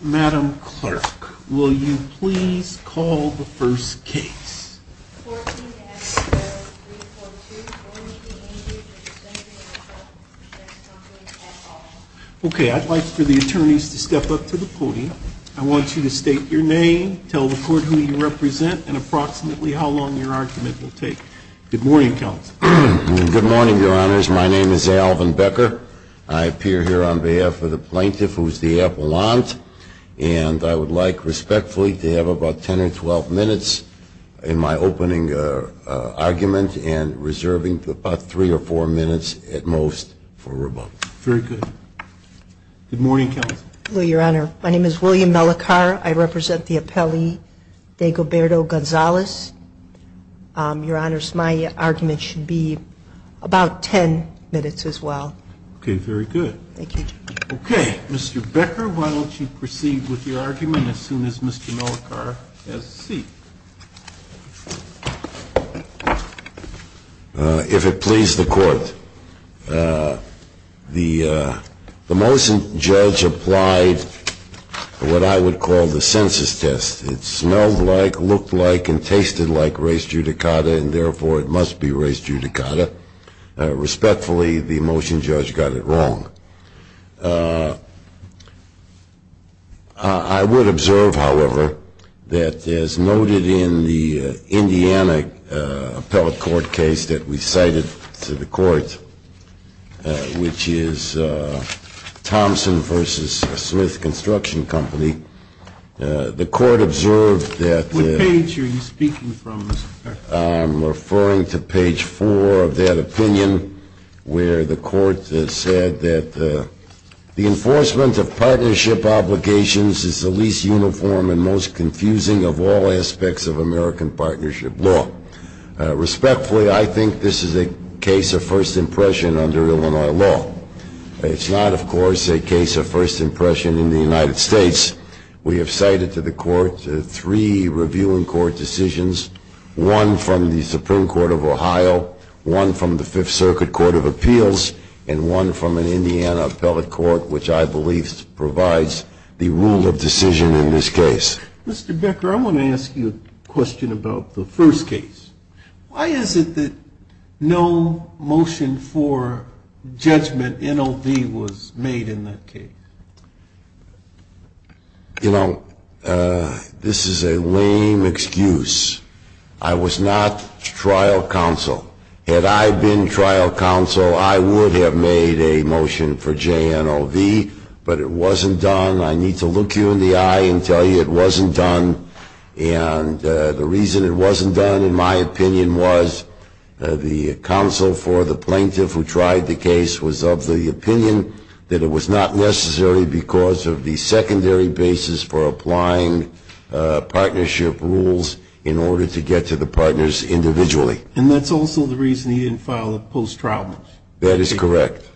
Madam Clerk, will you please call the first case. Okay, I'd like for the attorneys to step up to the podium. I want you to state your name, tell the court who you represent, and approximately how long your argument will take. Good morning, Counsel. Good morning, Your Honors. My name is Alvin Becker. I appear here on behalf of the plaintiff, who is the appellant, and I would like respectfully to have about 10 or 12 minutes in my opening argument and reserving about three or four minutes at most for rebuttal. Very good. Good morning, Counsel. Hello, Your Honor. My name is William Mellicar. I represent the appellee, Diego Berto Gonzalez. Your Honors, my argument should be about 10 minutes as well. Okay, very good. Thank you, Judge. Okay, Mr. Becker, why don't you proceed with your argument as soon as Mr. Mellicar has a seat. If it please the Court, the motion judge applied what I would call the census test. It smelled like, looked like, and tasted like race judicata, and therefore it must be race judicata. Respectfully, the motion judge got it wrong. I would observe, however, that as noted in the Indiana appellate court case that we cited to the court, which is Thompson v. Smith Construction Company, the court observed that What page are you speaking from, Mr. Becker? I'm referring to page four of that opinion where the court said that the enforcement of partnership obligations is the least uniform and most confusing of all aspects of American partnership law. Respectfully, I think this is a case of first impression under Illinois law. It's not, of course, a case of first impression in the United States. We have cited to the court three reviewing court decisions, one from the Supreme Court of Ohio, one from the Fifth Circuit Court of Appeals, and one from an Indiana appellate court, which I believe provides the rule of decision in this case. Mr. Becker, I want to ask you a question about the first case. Why is it that no motion for judgment NOV was made in that case? You know, this is a lame excuse. I was not trial counsel. Had I been trial counsel, I would have made a motion for JNOV, but it wasn't done. I need to look you in the eye and tell you it wasn't done, and the reason it wasn't done, in my opinion, was the counsel for the plaintiff who tried the case was of the opinion that it was not necessary because of the secondary basis for applying partnership rules in order to get to the partners individually. And that's also the reason he didn't file a post-trial motion. That is correct.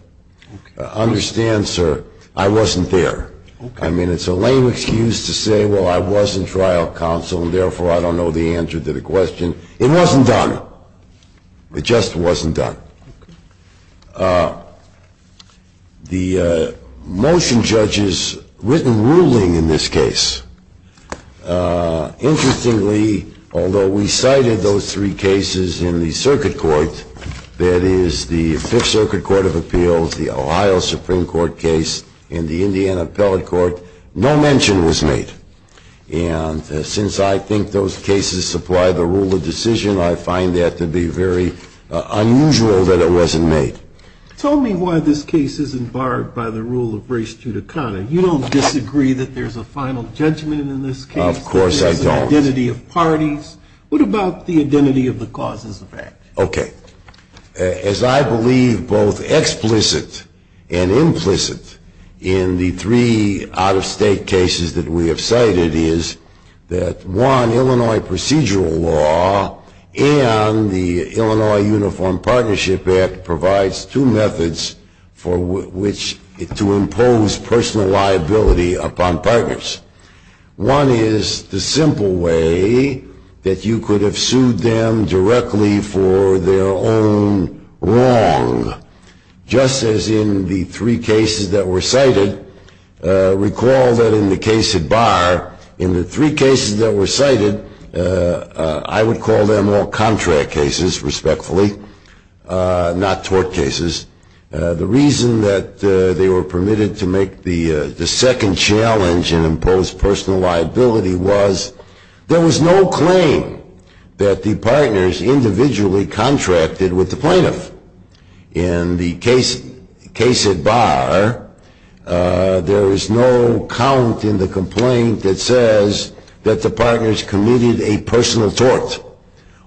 Understand, sir, I wasn't there. I mean, it's a lame excuse to say, well, I wasn't trial counsel, and therefore I don't know the answer to the question. It wasn't done. It just wasn't done. The motion judges' written ruling in this case, interestingly, although we cited those three cases in the circuit court, that is, the Fifth Circuit Court of Appeals, the Ohio Supreme Court case, and the Indiana Appellate Court, no mention was made. And since I think those cases supply the rule of decision, I find that to be very unusual that it wasn't made. Tell me why this case isn't barred by the rule of res judicata. You don't disagree that there's a final judgment in this case? Of course I don't. There's an identity of parties. What about the identity of the causes of action? Okay. As I believe both explicit and implicit in the three out-of-state cases that we have cited is that, one, Illinois procedural law and the Illinois Uniform Partnership Act provides two methods for which to impose personal liability upon partners. One is the simple way that you could have sued them directly for their own wrong. Just as in the three cases that were cited, recall that in the case at bar, in the three cases that were cited, I would call them all contract cases, respectfully, not tort cases. The reason that they were permitted to make the second challenge and impose personal liability was there was no claim that the partners individually contracted with the plaintiff. In the case at bar, there is no count in the complaint that says that the partners committed a personal tort.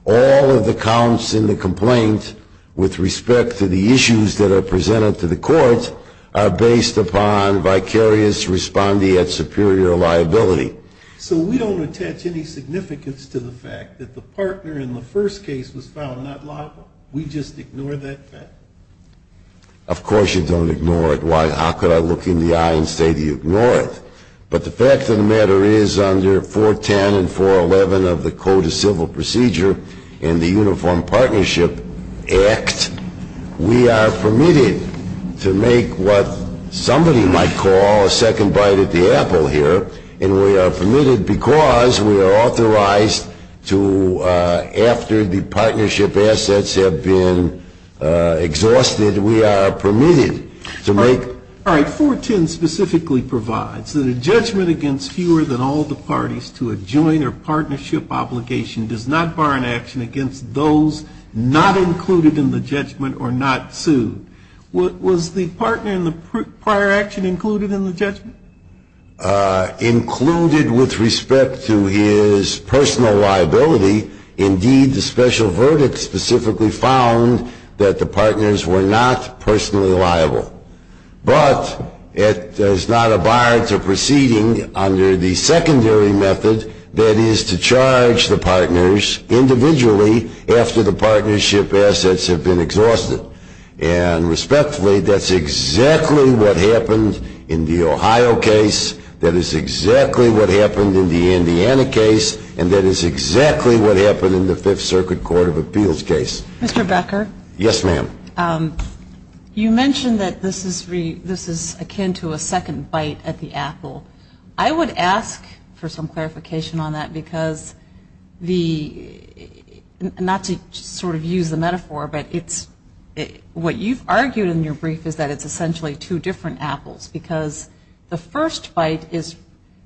All of the counts in the complaint, with respect to the issues that are presented to the court, are based upon vicarious respondee at superior liability. So we don't attach any significance to the fact that the partner in the first case was found not liable? We just ignore that fact? Of course you don't ignore it. How could I look you in the eye and say that you ignore it? But the fact of the matter is under 410 and 411 of the Code of Civil Procedure and the Uniform Partnership Act, we are permitted to make what somebody might call a second bite at the apple here, and we are permitted because we are authorized to, after the partnership assets have been exhausted, we are permitted to make. All right. 410 specifically provides that a judgment against fewer than all the parties to a joint or partnership obligation does not bar an action against those not included in the judgment or not sued. Was the partner in the prior action included in the judgment? Included with respect to his personal liability, indeed, the special verdict specifically found that the partners were not personally liable. But it does not abide to proceeding under the secondary method, that is to charge the partners individually after the partnership assets have been exhausted. And respectfully, that's exactly what happened in the Ohio case, that is exactly what happened in the Indiana case, and that is exactly what happened in the Fifth Circuit Court of Appeals case. Mr. Becker? Yes, ma'am. You mentioned that this is akin to a second bite at the apple. I would ask for some clarification on that because the, not to sort of use the metaphor, but what you've argued in your brief is that it's essentially two different apples because the first bite is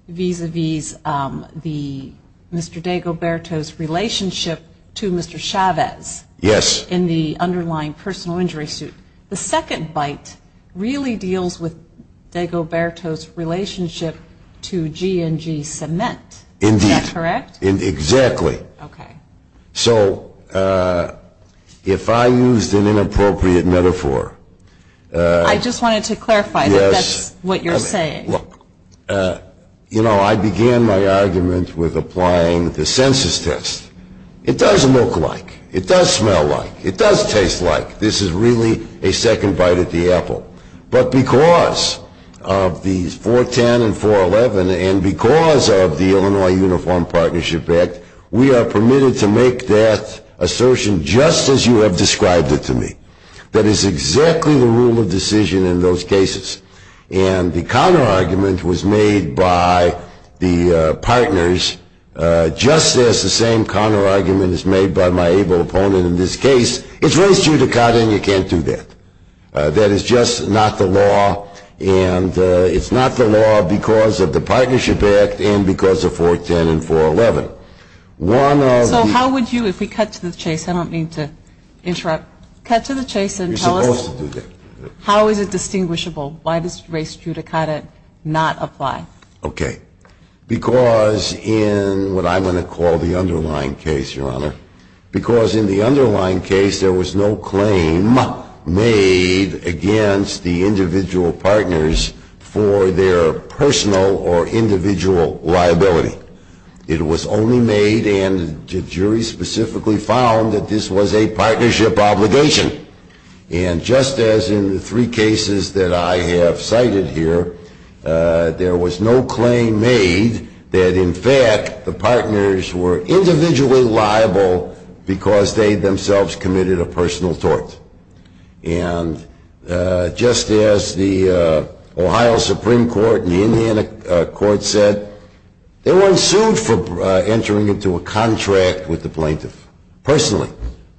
vis-a-vis Mr. DeGoberto's relationship to Mr. Chavez. Yes. In the underlying personal injury suit. The second bite really deals with DeGoberto's relationship to G&G Cement. Indeed. Is that correct? Exactly. Okay. So if I used an inappropriate metaphor. I just wanted to clarify that that's what you're saying. Look, you know, I began my argument with applying the census test. It does look like, it does smell like, it does taste like this is really a second bite at the apple. But because of the 410 and 411 and because of the Illinois Uniform Partnership Act, we are permitted to make that assertion just as you have described it to me. That is exactly the rule of decision in those cases. And the counterargument was made by the partners just as the same counterargument is made by my able opponent in this case. It's race judicata and you can't do that. That is just not the law, and it's not the law because of the Partnership Act and because of 410 and 411. So how would you, if we cut to the chase, I don't mean to interrupt. Cut to the chase and tell us. You're supposed to do that. How is it distinguishable? Why does race judicata not apply? Okay. Because in what I'm going to call the underlying case, Your Honor, because in the underlying case there was no claim made against the individual partners for their personal or individual liability. It was only made and the jury specifically found that this was a partnership obligation. And just as in the three cases that I have cited here, there was no claim made that, in fact, the partners were individually liable because they themselves committed a personal tort. And just as the Ohio Supreme Court and the Indiana court said, they weren't sued for entering into a contract with the plaintiff personally.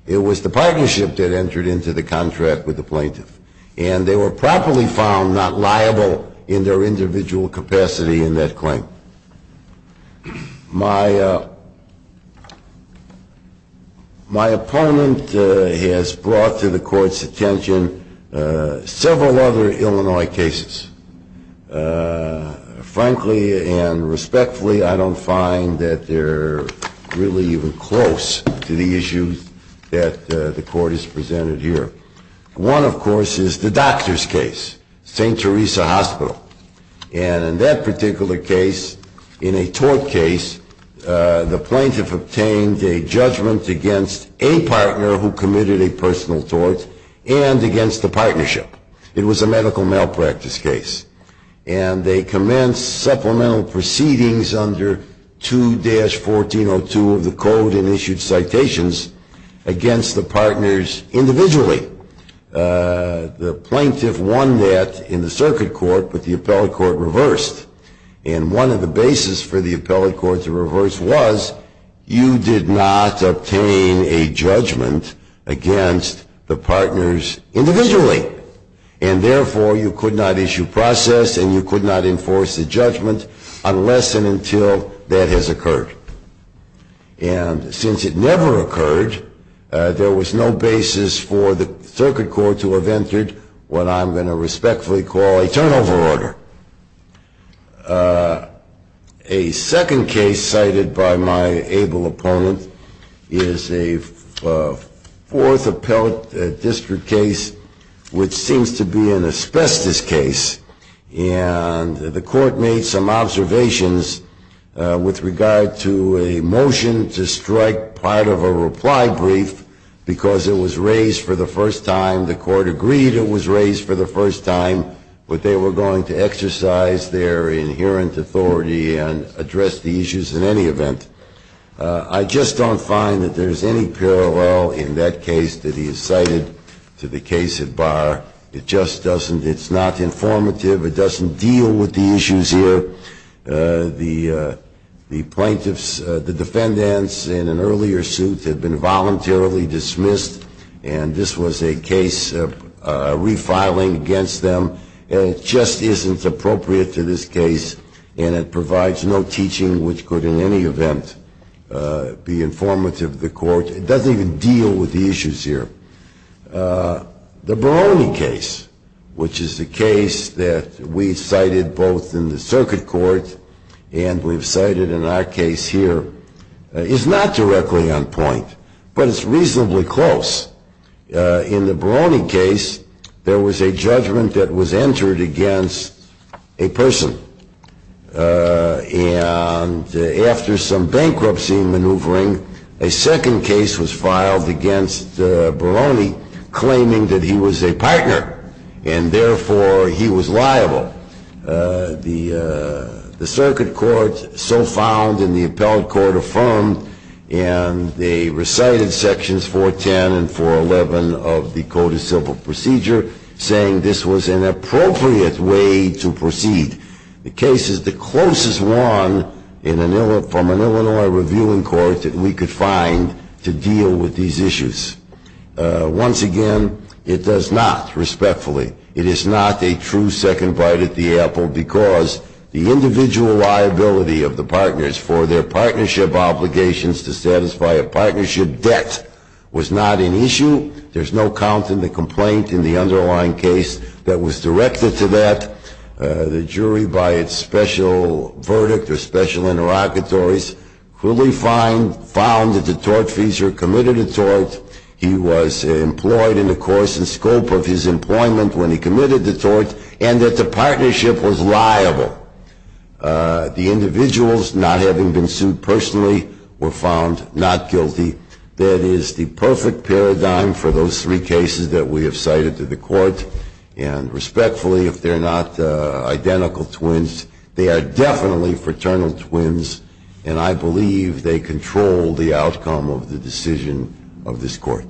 It was the partnership that entered into the contract with the plaintiff. And they were properly found not liable in their individual capacity in that claim. My opponent has brought to the court's attention several other Illinois cases. Frankly and respectfully, I don't find that they're really even close to the issues that the court has presented here. One, of course, is the doctor's case, St. Teresa Hospital. And in that particular case, in a tort case, the plaintiff obtained a judgment against a partner who committed a personal tort and against the partnership. It was a medical malpractice case. And they commenced supplemental proceedings under 2-1402 of the code and issued citations against the partners individually. The plaintiff won that in the circuit court, but the appellate court reversed. And one of the basis for the appellate court to reverse was, you did not obtain a judgment against the partners individually. And therefore, you could not issue process and you could not enforce a judgment unless and until that has occurred. And since it never occurred, there was no basis for the circuit court to have entered what I'm going to respectfully call a turnover order. A second case cited by my able opponent is a fourth appellate district case, which seems to be an asbestos case. And the court made some observations with regard to a motion to strike part of a reply brief because it was raised for the first time. The court agreed it was raised for the first time, but they were going to exercise their inherent authority and address the issues in any event. I just don't find that there's any parallel in that case that is cited to the case at bar. It just doesn't, it's not informative, it doesn't deal with the issues here. The plaintiffs, the defendants in an earlier suit have been voluntarily dismissed, and this was a case of refiling against them, and it just isn't appropriate to this case, and it provides no teaching which could in any event be informative to the court. It doesn't even deal with the issues here. The Baroni case, which is the case that we've cited both in the circuit court and we've cited in our case here, is not directly on point, but it's reasonably close. In the Baroni case, there was a judgment that was entered against a person, and after some bankruptcy maneuvering, a second case was filed against Baroni, claiming that he was a partner, and therefore he was liable. The circuit court so found, and the appellate court affirmed, and they recited sections 410 and 411 of the Code of Civil Procedure, saying this was an appropriate way to proceed. The case is the closest one from an Illinois reviewing court that we could find to deal with these issues. Once again, it does not, respectfully, it is not a true second bite at the apple, because the individual liability of the partners for their partnership obligations to satisfy a partnership debt was not an issue. There's no count in the complaint in the underlying case that was directed to that. The jury, by its special verdict or special interlocutories, found that the tortfeasor committed a tort, he was employed in the course and scope of his employment when he committed the tort, and that the partnership was liable. The individuals not having been sued personally were found not guilty. That is the perfect paradigm for those three cases that we have cited to the court, and respectfully, if they're not identical twins, they are definitely fraternal twins, and I believe they control the outcome of the decision of this court.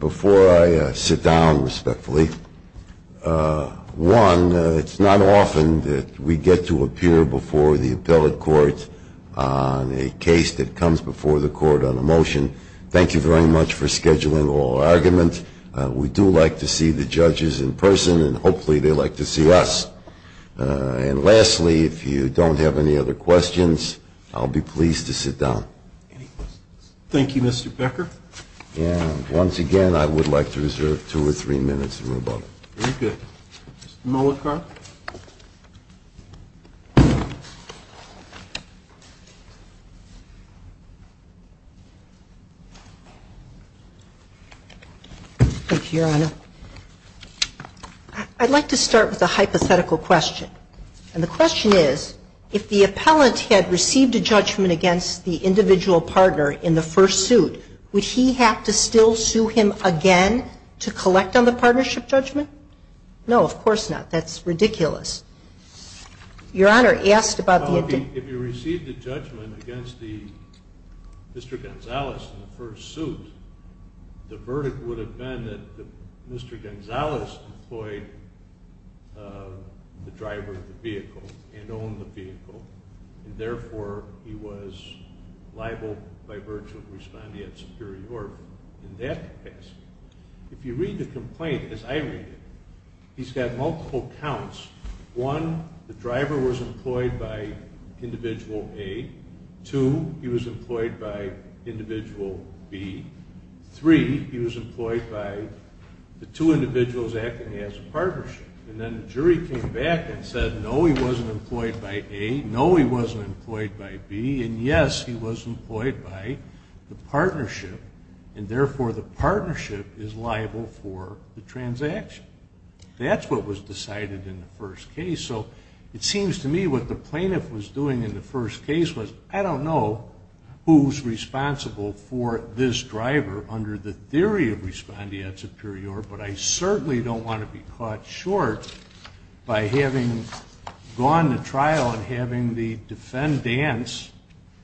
Before I sit down, respectfully, one, it's not often that we get to appear before the appellate court on a case that comes before the court on a motion. Thank you very much for scheduling our argument. We do like to see the judges in person, and hopefully they like to see us. And lastly, if you don't have any other questions, I'll be pleased to sit down. Thank you, Mr. Becker. Once again, I would like to reserve two or three minutes. Thank you, Your Honor. I'd like to start with a hypothetical question. And the question is, if the appellant had received a judgment against the individual partner in the first suit, would he have to still sue him again to collect on the partnership? No, of course not. That's ridiculous. If he received a judgment against Mr. Gonzalez in the first suit, the verdict would have been that Mr. Gonzalez employed the driver of the vehicle and owned the vehicle, and therefore he was liable by virtue of responding at Superior Court. If you read the complaint as I read it, he's got multiple counts. One, the driver was employed by Individual A. Two, he was employed by Individual B. Three, he was employed by the two individuals acting as a partnership. And then the jury came back and said, no, he wasn't employed by A, no, he wasn't employed by B, and yes, he was employed by the partnership, and therefore the partnership is liable for the transaction. That's what was decided in the first case. So it seems to me what the plaintiff was doing in the first case was, I don't know who's responsible for this driver under the theory of responding at Superior, but I certainly don't want to be caught short by having gone to trial and having the defendants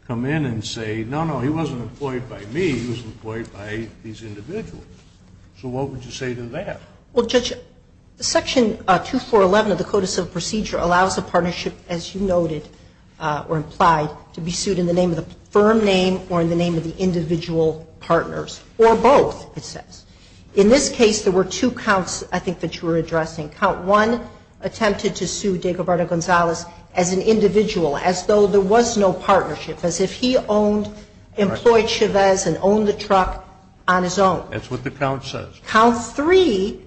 come in and say, no, no, he wasn't employed by me, he was employed by these individuals. So what would you say to that? Well, Judge, Section 2411 of the Code of Civil Procedure allows a partnership, as you noted or implied, to be sued in the name of the firm name or in the name of the individual partners, or both, it says. In this case, there were two counts, I think, that you were addressing. Count 1 attempted to sue Diego Barra Gonzalez as an individual, as though there was no partnership, as if he owned, employed Chavez and owned the truck on his own. That's what the count says. Count 3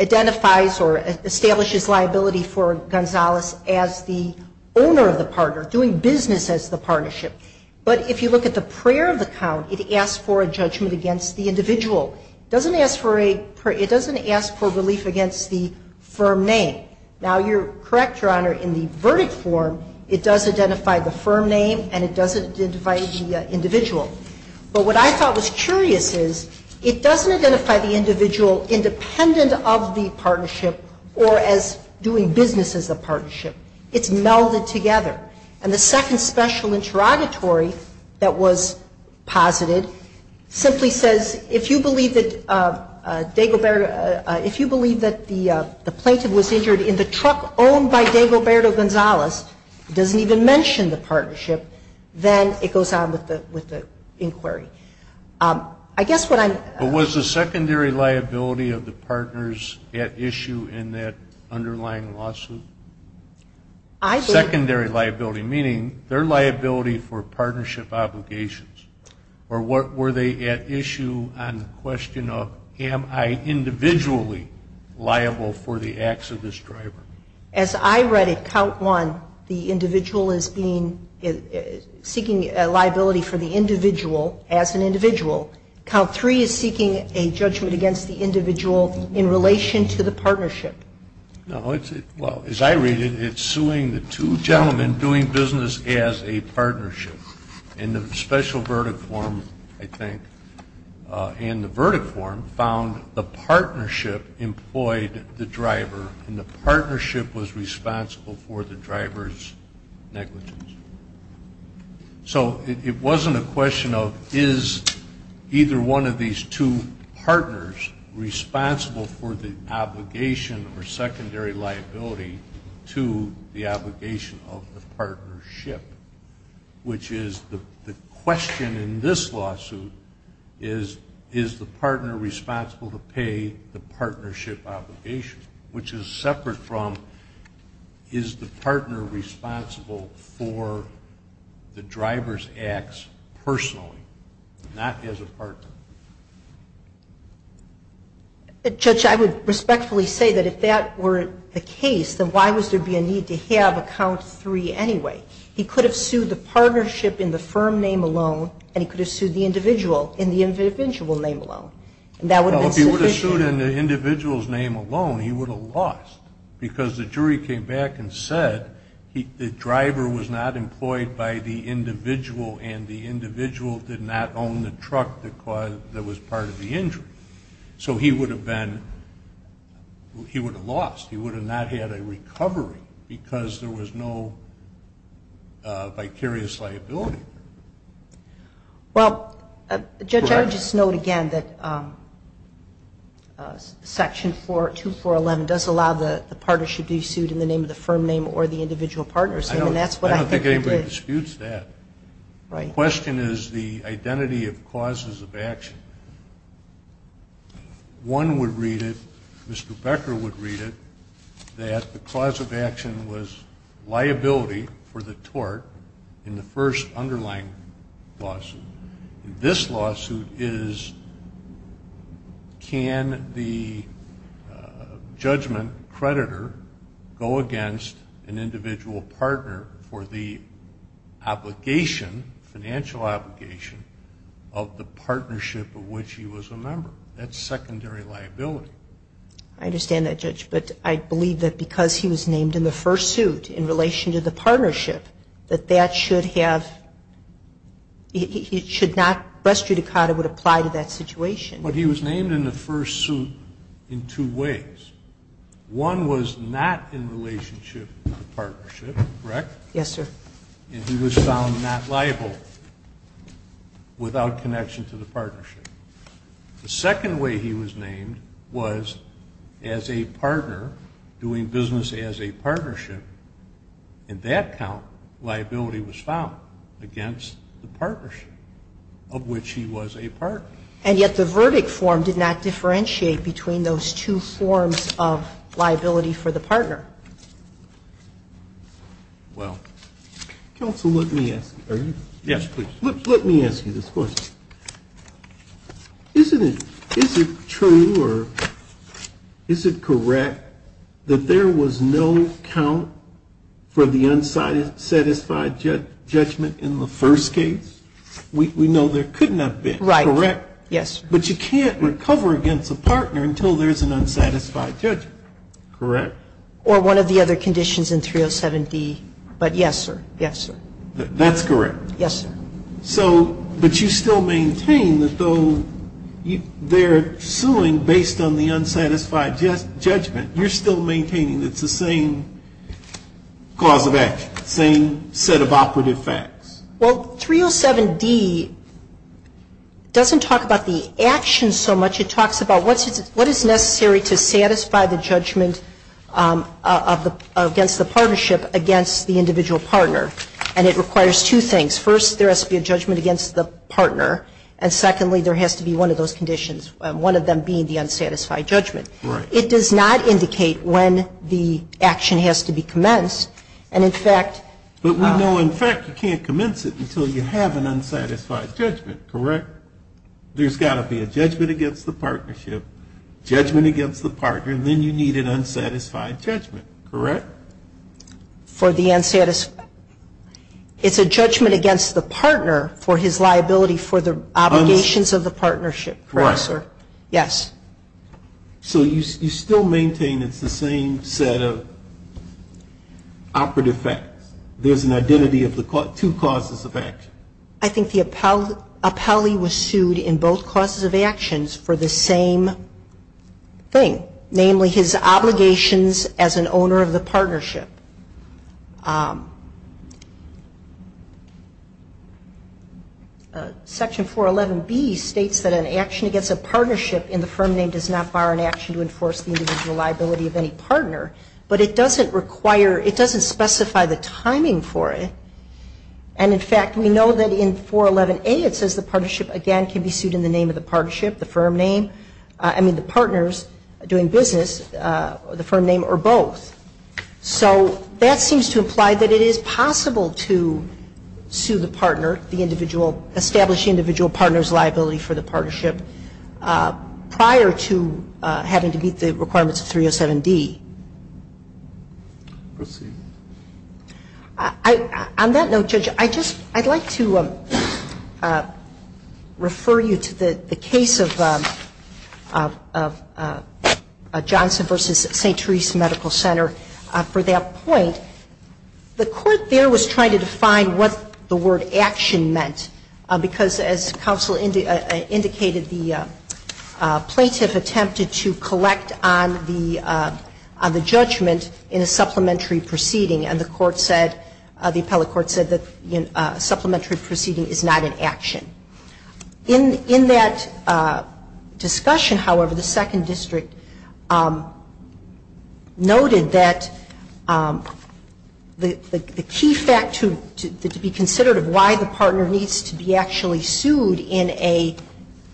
identifies or establishes liability for Gonzalez as the owner of the partner, doing business as the partnership. But if you look at the prayer of the count, it asks for a judgment against the individual. It doesn't ask for a relief against the firm name. Now, you're correct, Your Honor, in the verdict form, it does identify the firm name and it does identify the individual. But what I thought was curious is it doesn't identify the individual independent of the partnership or as doing business as a partnership. It's melded together. And the second special interrogatory that was posited simply says, if you believe that Diego Barra, if you believe that the plaintiff was injured in the truck owned by Diego Barra Gonzalez, it doesn't even mention the partnership, then it goes on with the inquiry. I guess what I'm... But was the secondary liability of the partners at issue in that underlying lawsuit? I believe... Secondary liability, meaning their liability for partnership obligations. Or were they at issue on the question of, am I individually liable for the acts of this driver? As I read it, count one, the individual is being, seeking liability for the individual as an individual. Count three is seeking a judgment against the individual in relation to the partnership. No. Well, as I read it, it's suing the two gentlemen doing business as a partnership. And the special verdict form, I think, and the verdict form found the partnership employed the driver and the partnership was responsible for the driver's negligence. So it wasn't a question of, is either one of these two partners responsible for the obligation or secondary liability to the obligation of the partnership, which is the question in this lawsuit is, is the partner responsible to pay the partnership obligation, which is separate from, is the partner responsible for the driver's acts personally, not as a partner? Judge, I would respectfully say that if that were the case, then why would there be a need to have a count three anyway? He could have sued the partnership in the firm name alone, and he could have sued the individual in the individual name alone. And that would have been sufficient. Well, if he would have sued in the individual's name alone, he would have lost. Because the jury came back and said the driver was not employed by the individual and the individual did not own the truck that was part of the injury. So he would have been, he would have lost. He would have not had a recovery because there was no vicarious liability. Well, Judge, I would just note again that Section 2411 does allow the partnership to be sued in the name of the firm name or the individual partner's name. And that's what I think it did. I don't think anybody disputes that. Right. The question is the identity of causes of action. One would read it, Mr. Becker would read it, that the cause of action was liability for the tort in the first underlying lawsuit. This lawsuit is can the judgment creditor go against an individual partner for the obligation, financial obligation of the partnership of which he was a member. That's secondary liability. I understand that, Judge. But I believe that because he was named in the first suit in relation to the partnership that that should have, it should not, res judicata would apply to that situation. But he was named in the first suit in two ways. One was not in relationship to the partnership, correct? Yes, sir. And he was found not liable without connection to the partnership. The second way he was named was as a partner doing business as a partnership. In that count, liability was found against the partnership of which he was a partner. And yet the verdict form did not differentiate between those two forms of liability for the partner. Well, counsel, let me ask you this question. Isn't it true or is it correct that there was no count for the unsatisfied judgment in the first case? We know there could not have been, correct? Right. Yes. But you can't recover against a partner until there's an unsatisfied judgment. Correct. Or one of the other conditions in 307D. But yes, sir. Yes, sir. That's correct. Yes, sir. So, but you still maintain that though they're suing based on the unsatisfied judgment, you're still maintaining it's the same cause of action, same set of operative facts. Well, 307D doesn't talk about the action so much. It talks about what is necessary to satisfy the judgment against the partnership against the individual partner. And it requires two things. First, there has to be a judgment against the partner. And secondly, there has to be one of those conditions, one of them being the unsatisfied judgment. Right. It does not indicate when the action has to be commenced. And, in fact, But we know in fact you can't commence it until you have an unsatisfied judgment. Correct? There's got to be a judgment against the partnership, judgment against the partner, and then you need an unsatisfied judgment. Correct? For the unsatisfied. It's a judgment against the partner for his liability for the obligations of the partnership. Correct. Correct, sir. Yes. So you still maintain it's the same set of operative facts. There's an identity of the two causes of action. I think the appellee was sued in both causes of actions for the same thing, namely his obligations as an owner of the partnership. Section 411B states that an action against a partnership in the firm name does not bar an action to enforce the individual liability of any partner. But it doesn't require, it doesn't specify the timing for it. And, in fact, we know that in 411A it says the partnership, again, can be sued in the name of the partnership, the firm name. I mean the partners doing business, the firm name, or both. So that seems to imply that it is possible to sue the partner, the individual, establish the individual partner's liability for the partnership prior to having to meet the requirements of 307D. Proceed. On that note, Judge, I just, I'd like to refer you to the case of Johnson v. St. Therese Medical Center for that point. The court there was trying to define what the word action meant, because as counsel indicated, the plaintiff attempted to collect on the judgment in a supplementary proceeding, and the court said, the appellate court said that supplementary proceeding is not an action. In that discussion, however, the second district noted that the key fact to be considered of why the partner needs to be actually sued in an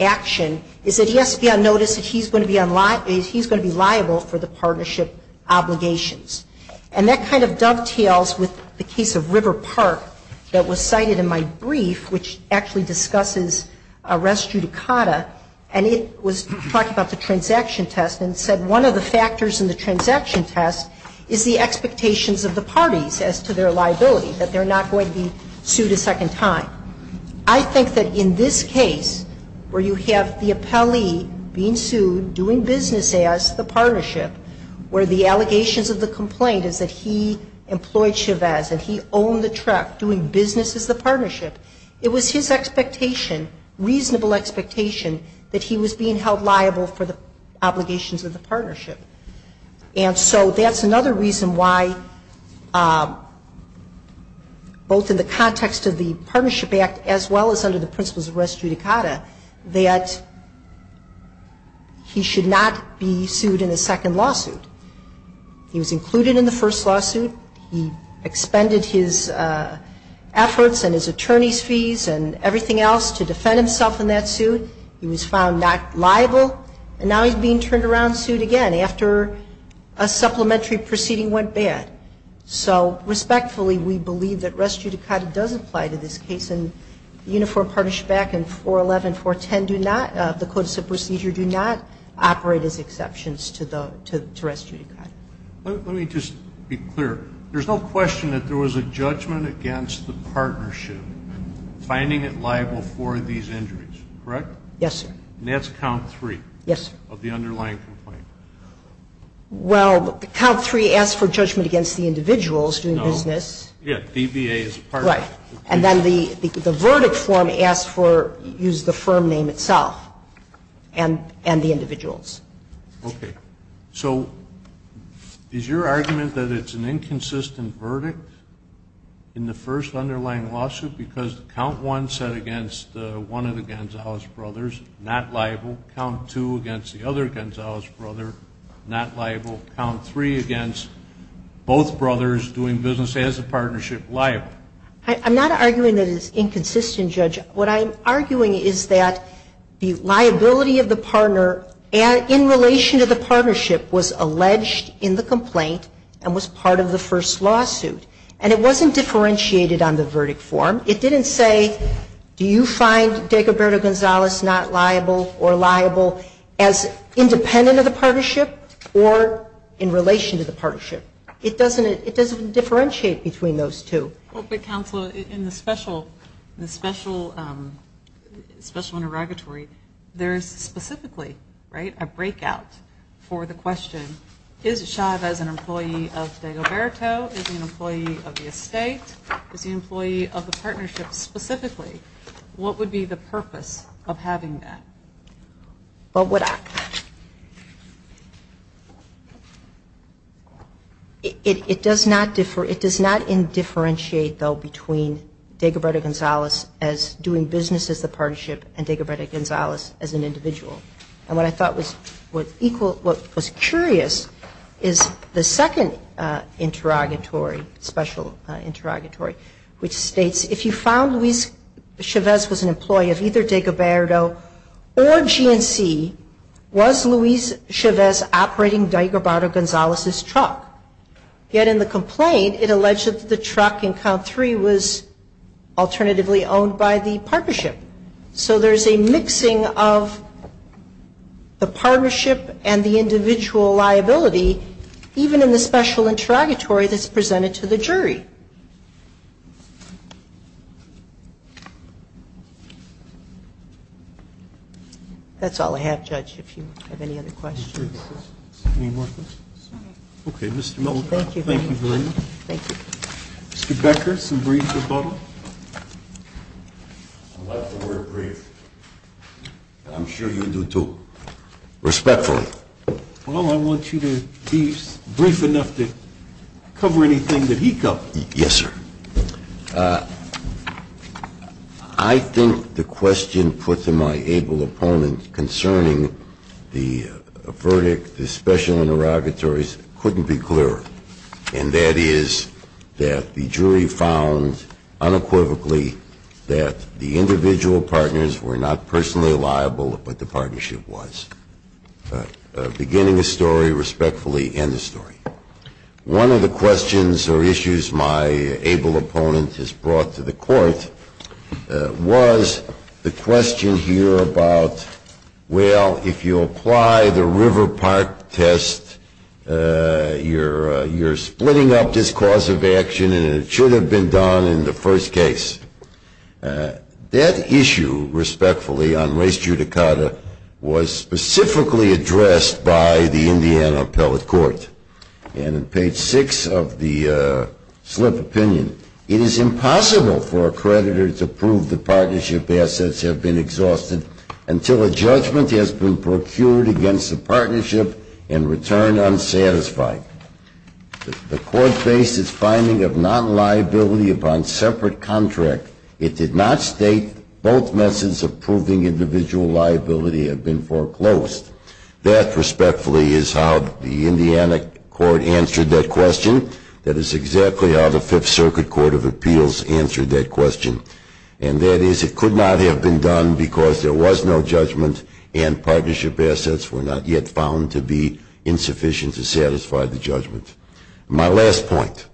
action is that he has to be on notice that he's going to be liable for the partnership obligations. And that kind of dovetails with the case of River Park that was cited in my brief, which actually discusses arrest judicata, and it was talking about the transaction test and said one of the factors in the transaction test is the expectations of the parties as to their liability, that they're not going to be sued a second time. I think that in this case, where you have the appellee being sued, doing business as the partnership, where the allegations of the complaint is that he employed Chavez and he owned the truck doing business as the partnership, it was his expectation, reasonable expectation, that he was being held liable for the obligations of the partnership. And so that's another reason why, both in the context of the Partnership Act as well as under the principles of arrest judicata, that he should not be sued in a second lawsuit. He was included in the first lawsuit. He expended his efforts and his attorney's fees and everything else to defend himself in that suit. He was found not liable. And now he's being turned around, sued again after a supplementary proceeding went bad. So respectfully, we believe that arrest judicata does apply to this case. And the Uniform Partnership Act and 411, 410 do not, the codes of procedure do not operate as exceptions to arrest judicata. Let me just be clear. There's no question that there was a judgment against the partnership finding it liable for these injuries, correct? Yes, sir. And that's count three? Yes, sir. Of the underlying complaint. Well, count three asked for judgment against the individuals doing business. No. Yeah, DBA is part of it. Right. And then the verdict form asked for, used the firm name itself and the individuals. Okay. So is your argument that it's an inconsistent verdict in the first underlying lawsuit because count one said against one of the Gonzales brothers, not liable, count two against the other Gonzales brother, not liable, count three against both brothers doing business as a partnership, liable? I'm not arguing that it's inconsistent, Judge. What I'm arguing is that the liability of the partner in relation to the partnership was alleged in the complaint and was part of the first lawsuit. And it wasn't differentiated on the verdict form. It didn't say, do you find Dagoberto Gonzales not liable or liable as independent of the partnership or in relation to the partnership? It doesn't differentiate between those two. Well, but, Counselor, in the special interrogatory, there is specifically a breakout for the question, is Achave as an employee of Dagoberto? Is he an employee of the estate? Is he an employee of the partnership specifically? What would be the purpose of having that? It does not differentiate, though, between Dagoberto Gonzales as doing business as a partnership and Dagoberto Gonzales as an individual. And what I thought was curious is the second interrogatory, special interrogatory, which states, if you found Luis Chavez was an employee of either Dagoberto or GNC, was Luis Chavez operating Dagoberto Gonzales' truck? Yet in the complaint, it alleged that the truck in count three was alternatively owned by the partnership. So there's a mixing of the partnership and the individual liability, even in the special interrogatory that's presented to the jury. That's all I have, Judge, if you have any other questions. Any more questions? Okay. Okay, Mr. Melnickoff. Thank you. Thank you, Brenda. Thank you. Mr. Becker, some brief rebuttal. I like the word brief. I'm sure you do, too. Respectfully. Well, I want you to be brief enough to cover anything that he covered. Yes, sir. I think the question put to my able opponent concerning the verdict, the special interrogatories, couldn't be clearer. And that is that the jury found unequivocally that the individual partners were not personally liable, but the partnership was. Beginning the story respectfully, end the story. One of the questions or issues my able opponent has brought to the court was the splitting up this cause of action, and it should have been done in the first case. That issue, respectfully, on race judicata, was specifically addressed by the Indiana Appellate Court. And in page six of the slip opinion, it is impossible for a creditor to prove the partnership assets have been exhausted until a judgment has been procured against the court based its finding of non-liability upon separate contract. It did not state both methods of proving individual liability have been foreclosed. That, respectfully, is how the Indiana court answered that question. That is exactly how the Fifth Circuit Court of Appeals answered that question. And that is it could not have been done because there was no judgment and My last point.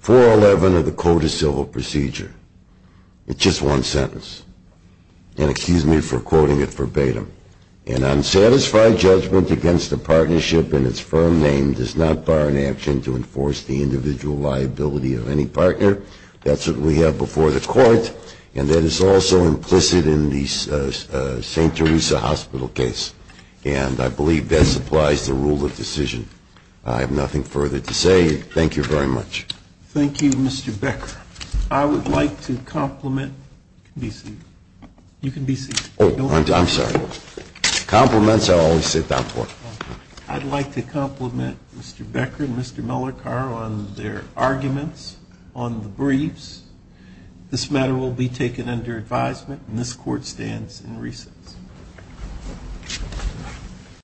411 of the Code of Civil Procedure. It's just one sentence. And excuse me for quoting it verbatim. An unsatisfied judgment against a partnership in its firm name does not bar an action to enforce the individual liability of any partner. That's what we have before the court, and that is also implicit in the St. Teresa Hospital case. And I believe that supplies the rule of decision. I have nothing further to say. Thank you very much. Thank you, Mr. Becker. I would like to compliment. You can be seated. Oh, I'm sorry. Compliments I always sit down for. I'd like to compliment Mr. Becker and Mr. Mellor-Carr on their arguments on the briefs. This matter will be taken under advisement, and this court stands in recess. Thank you.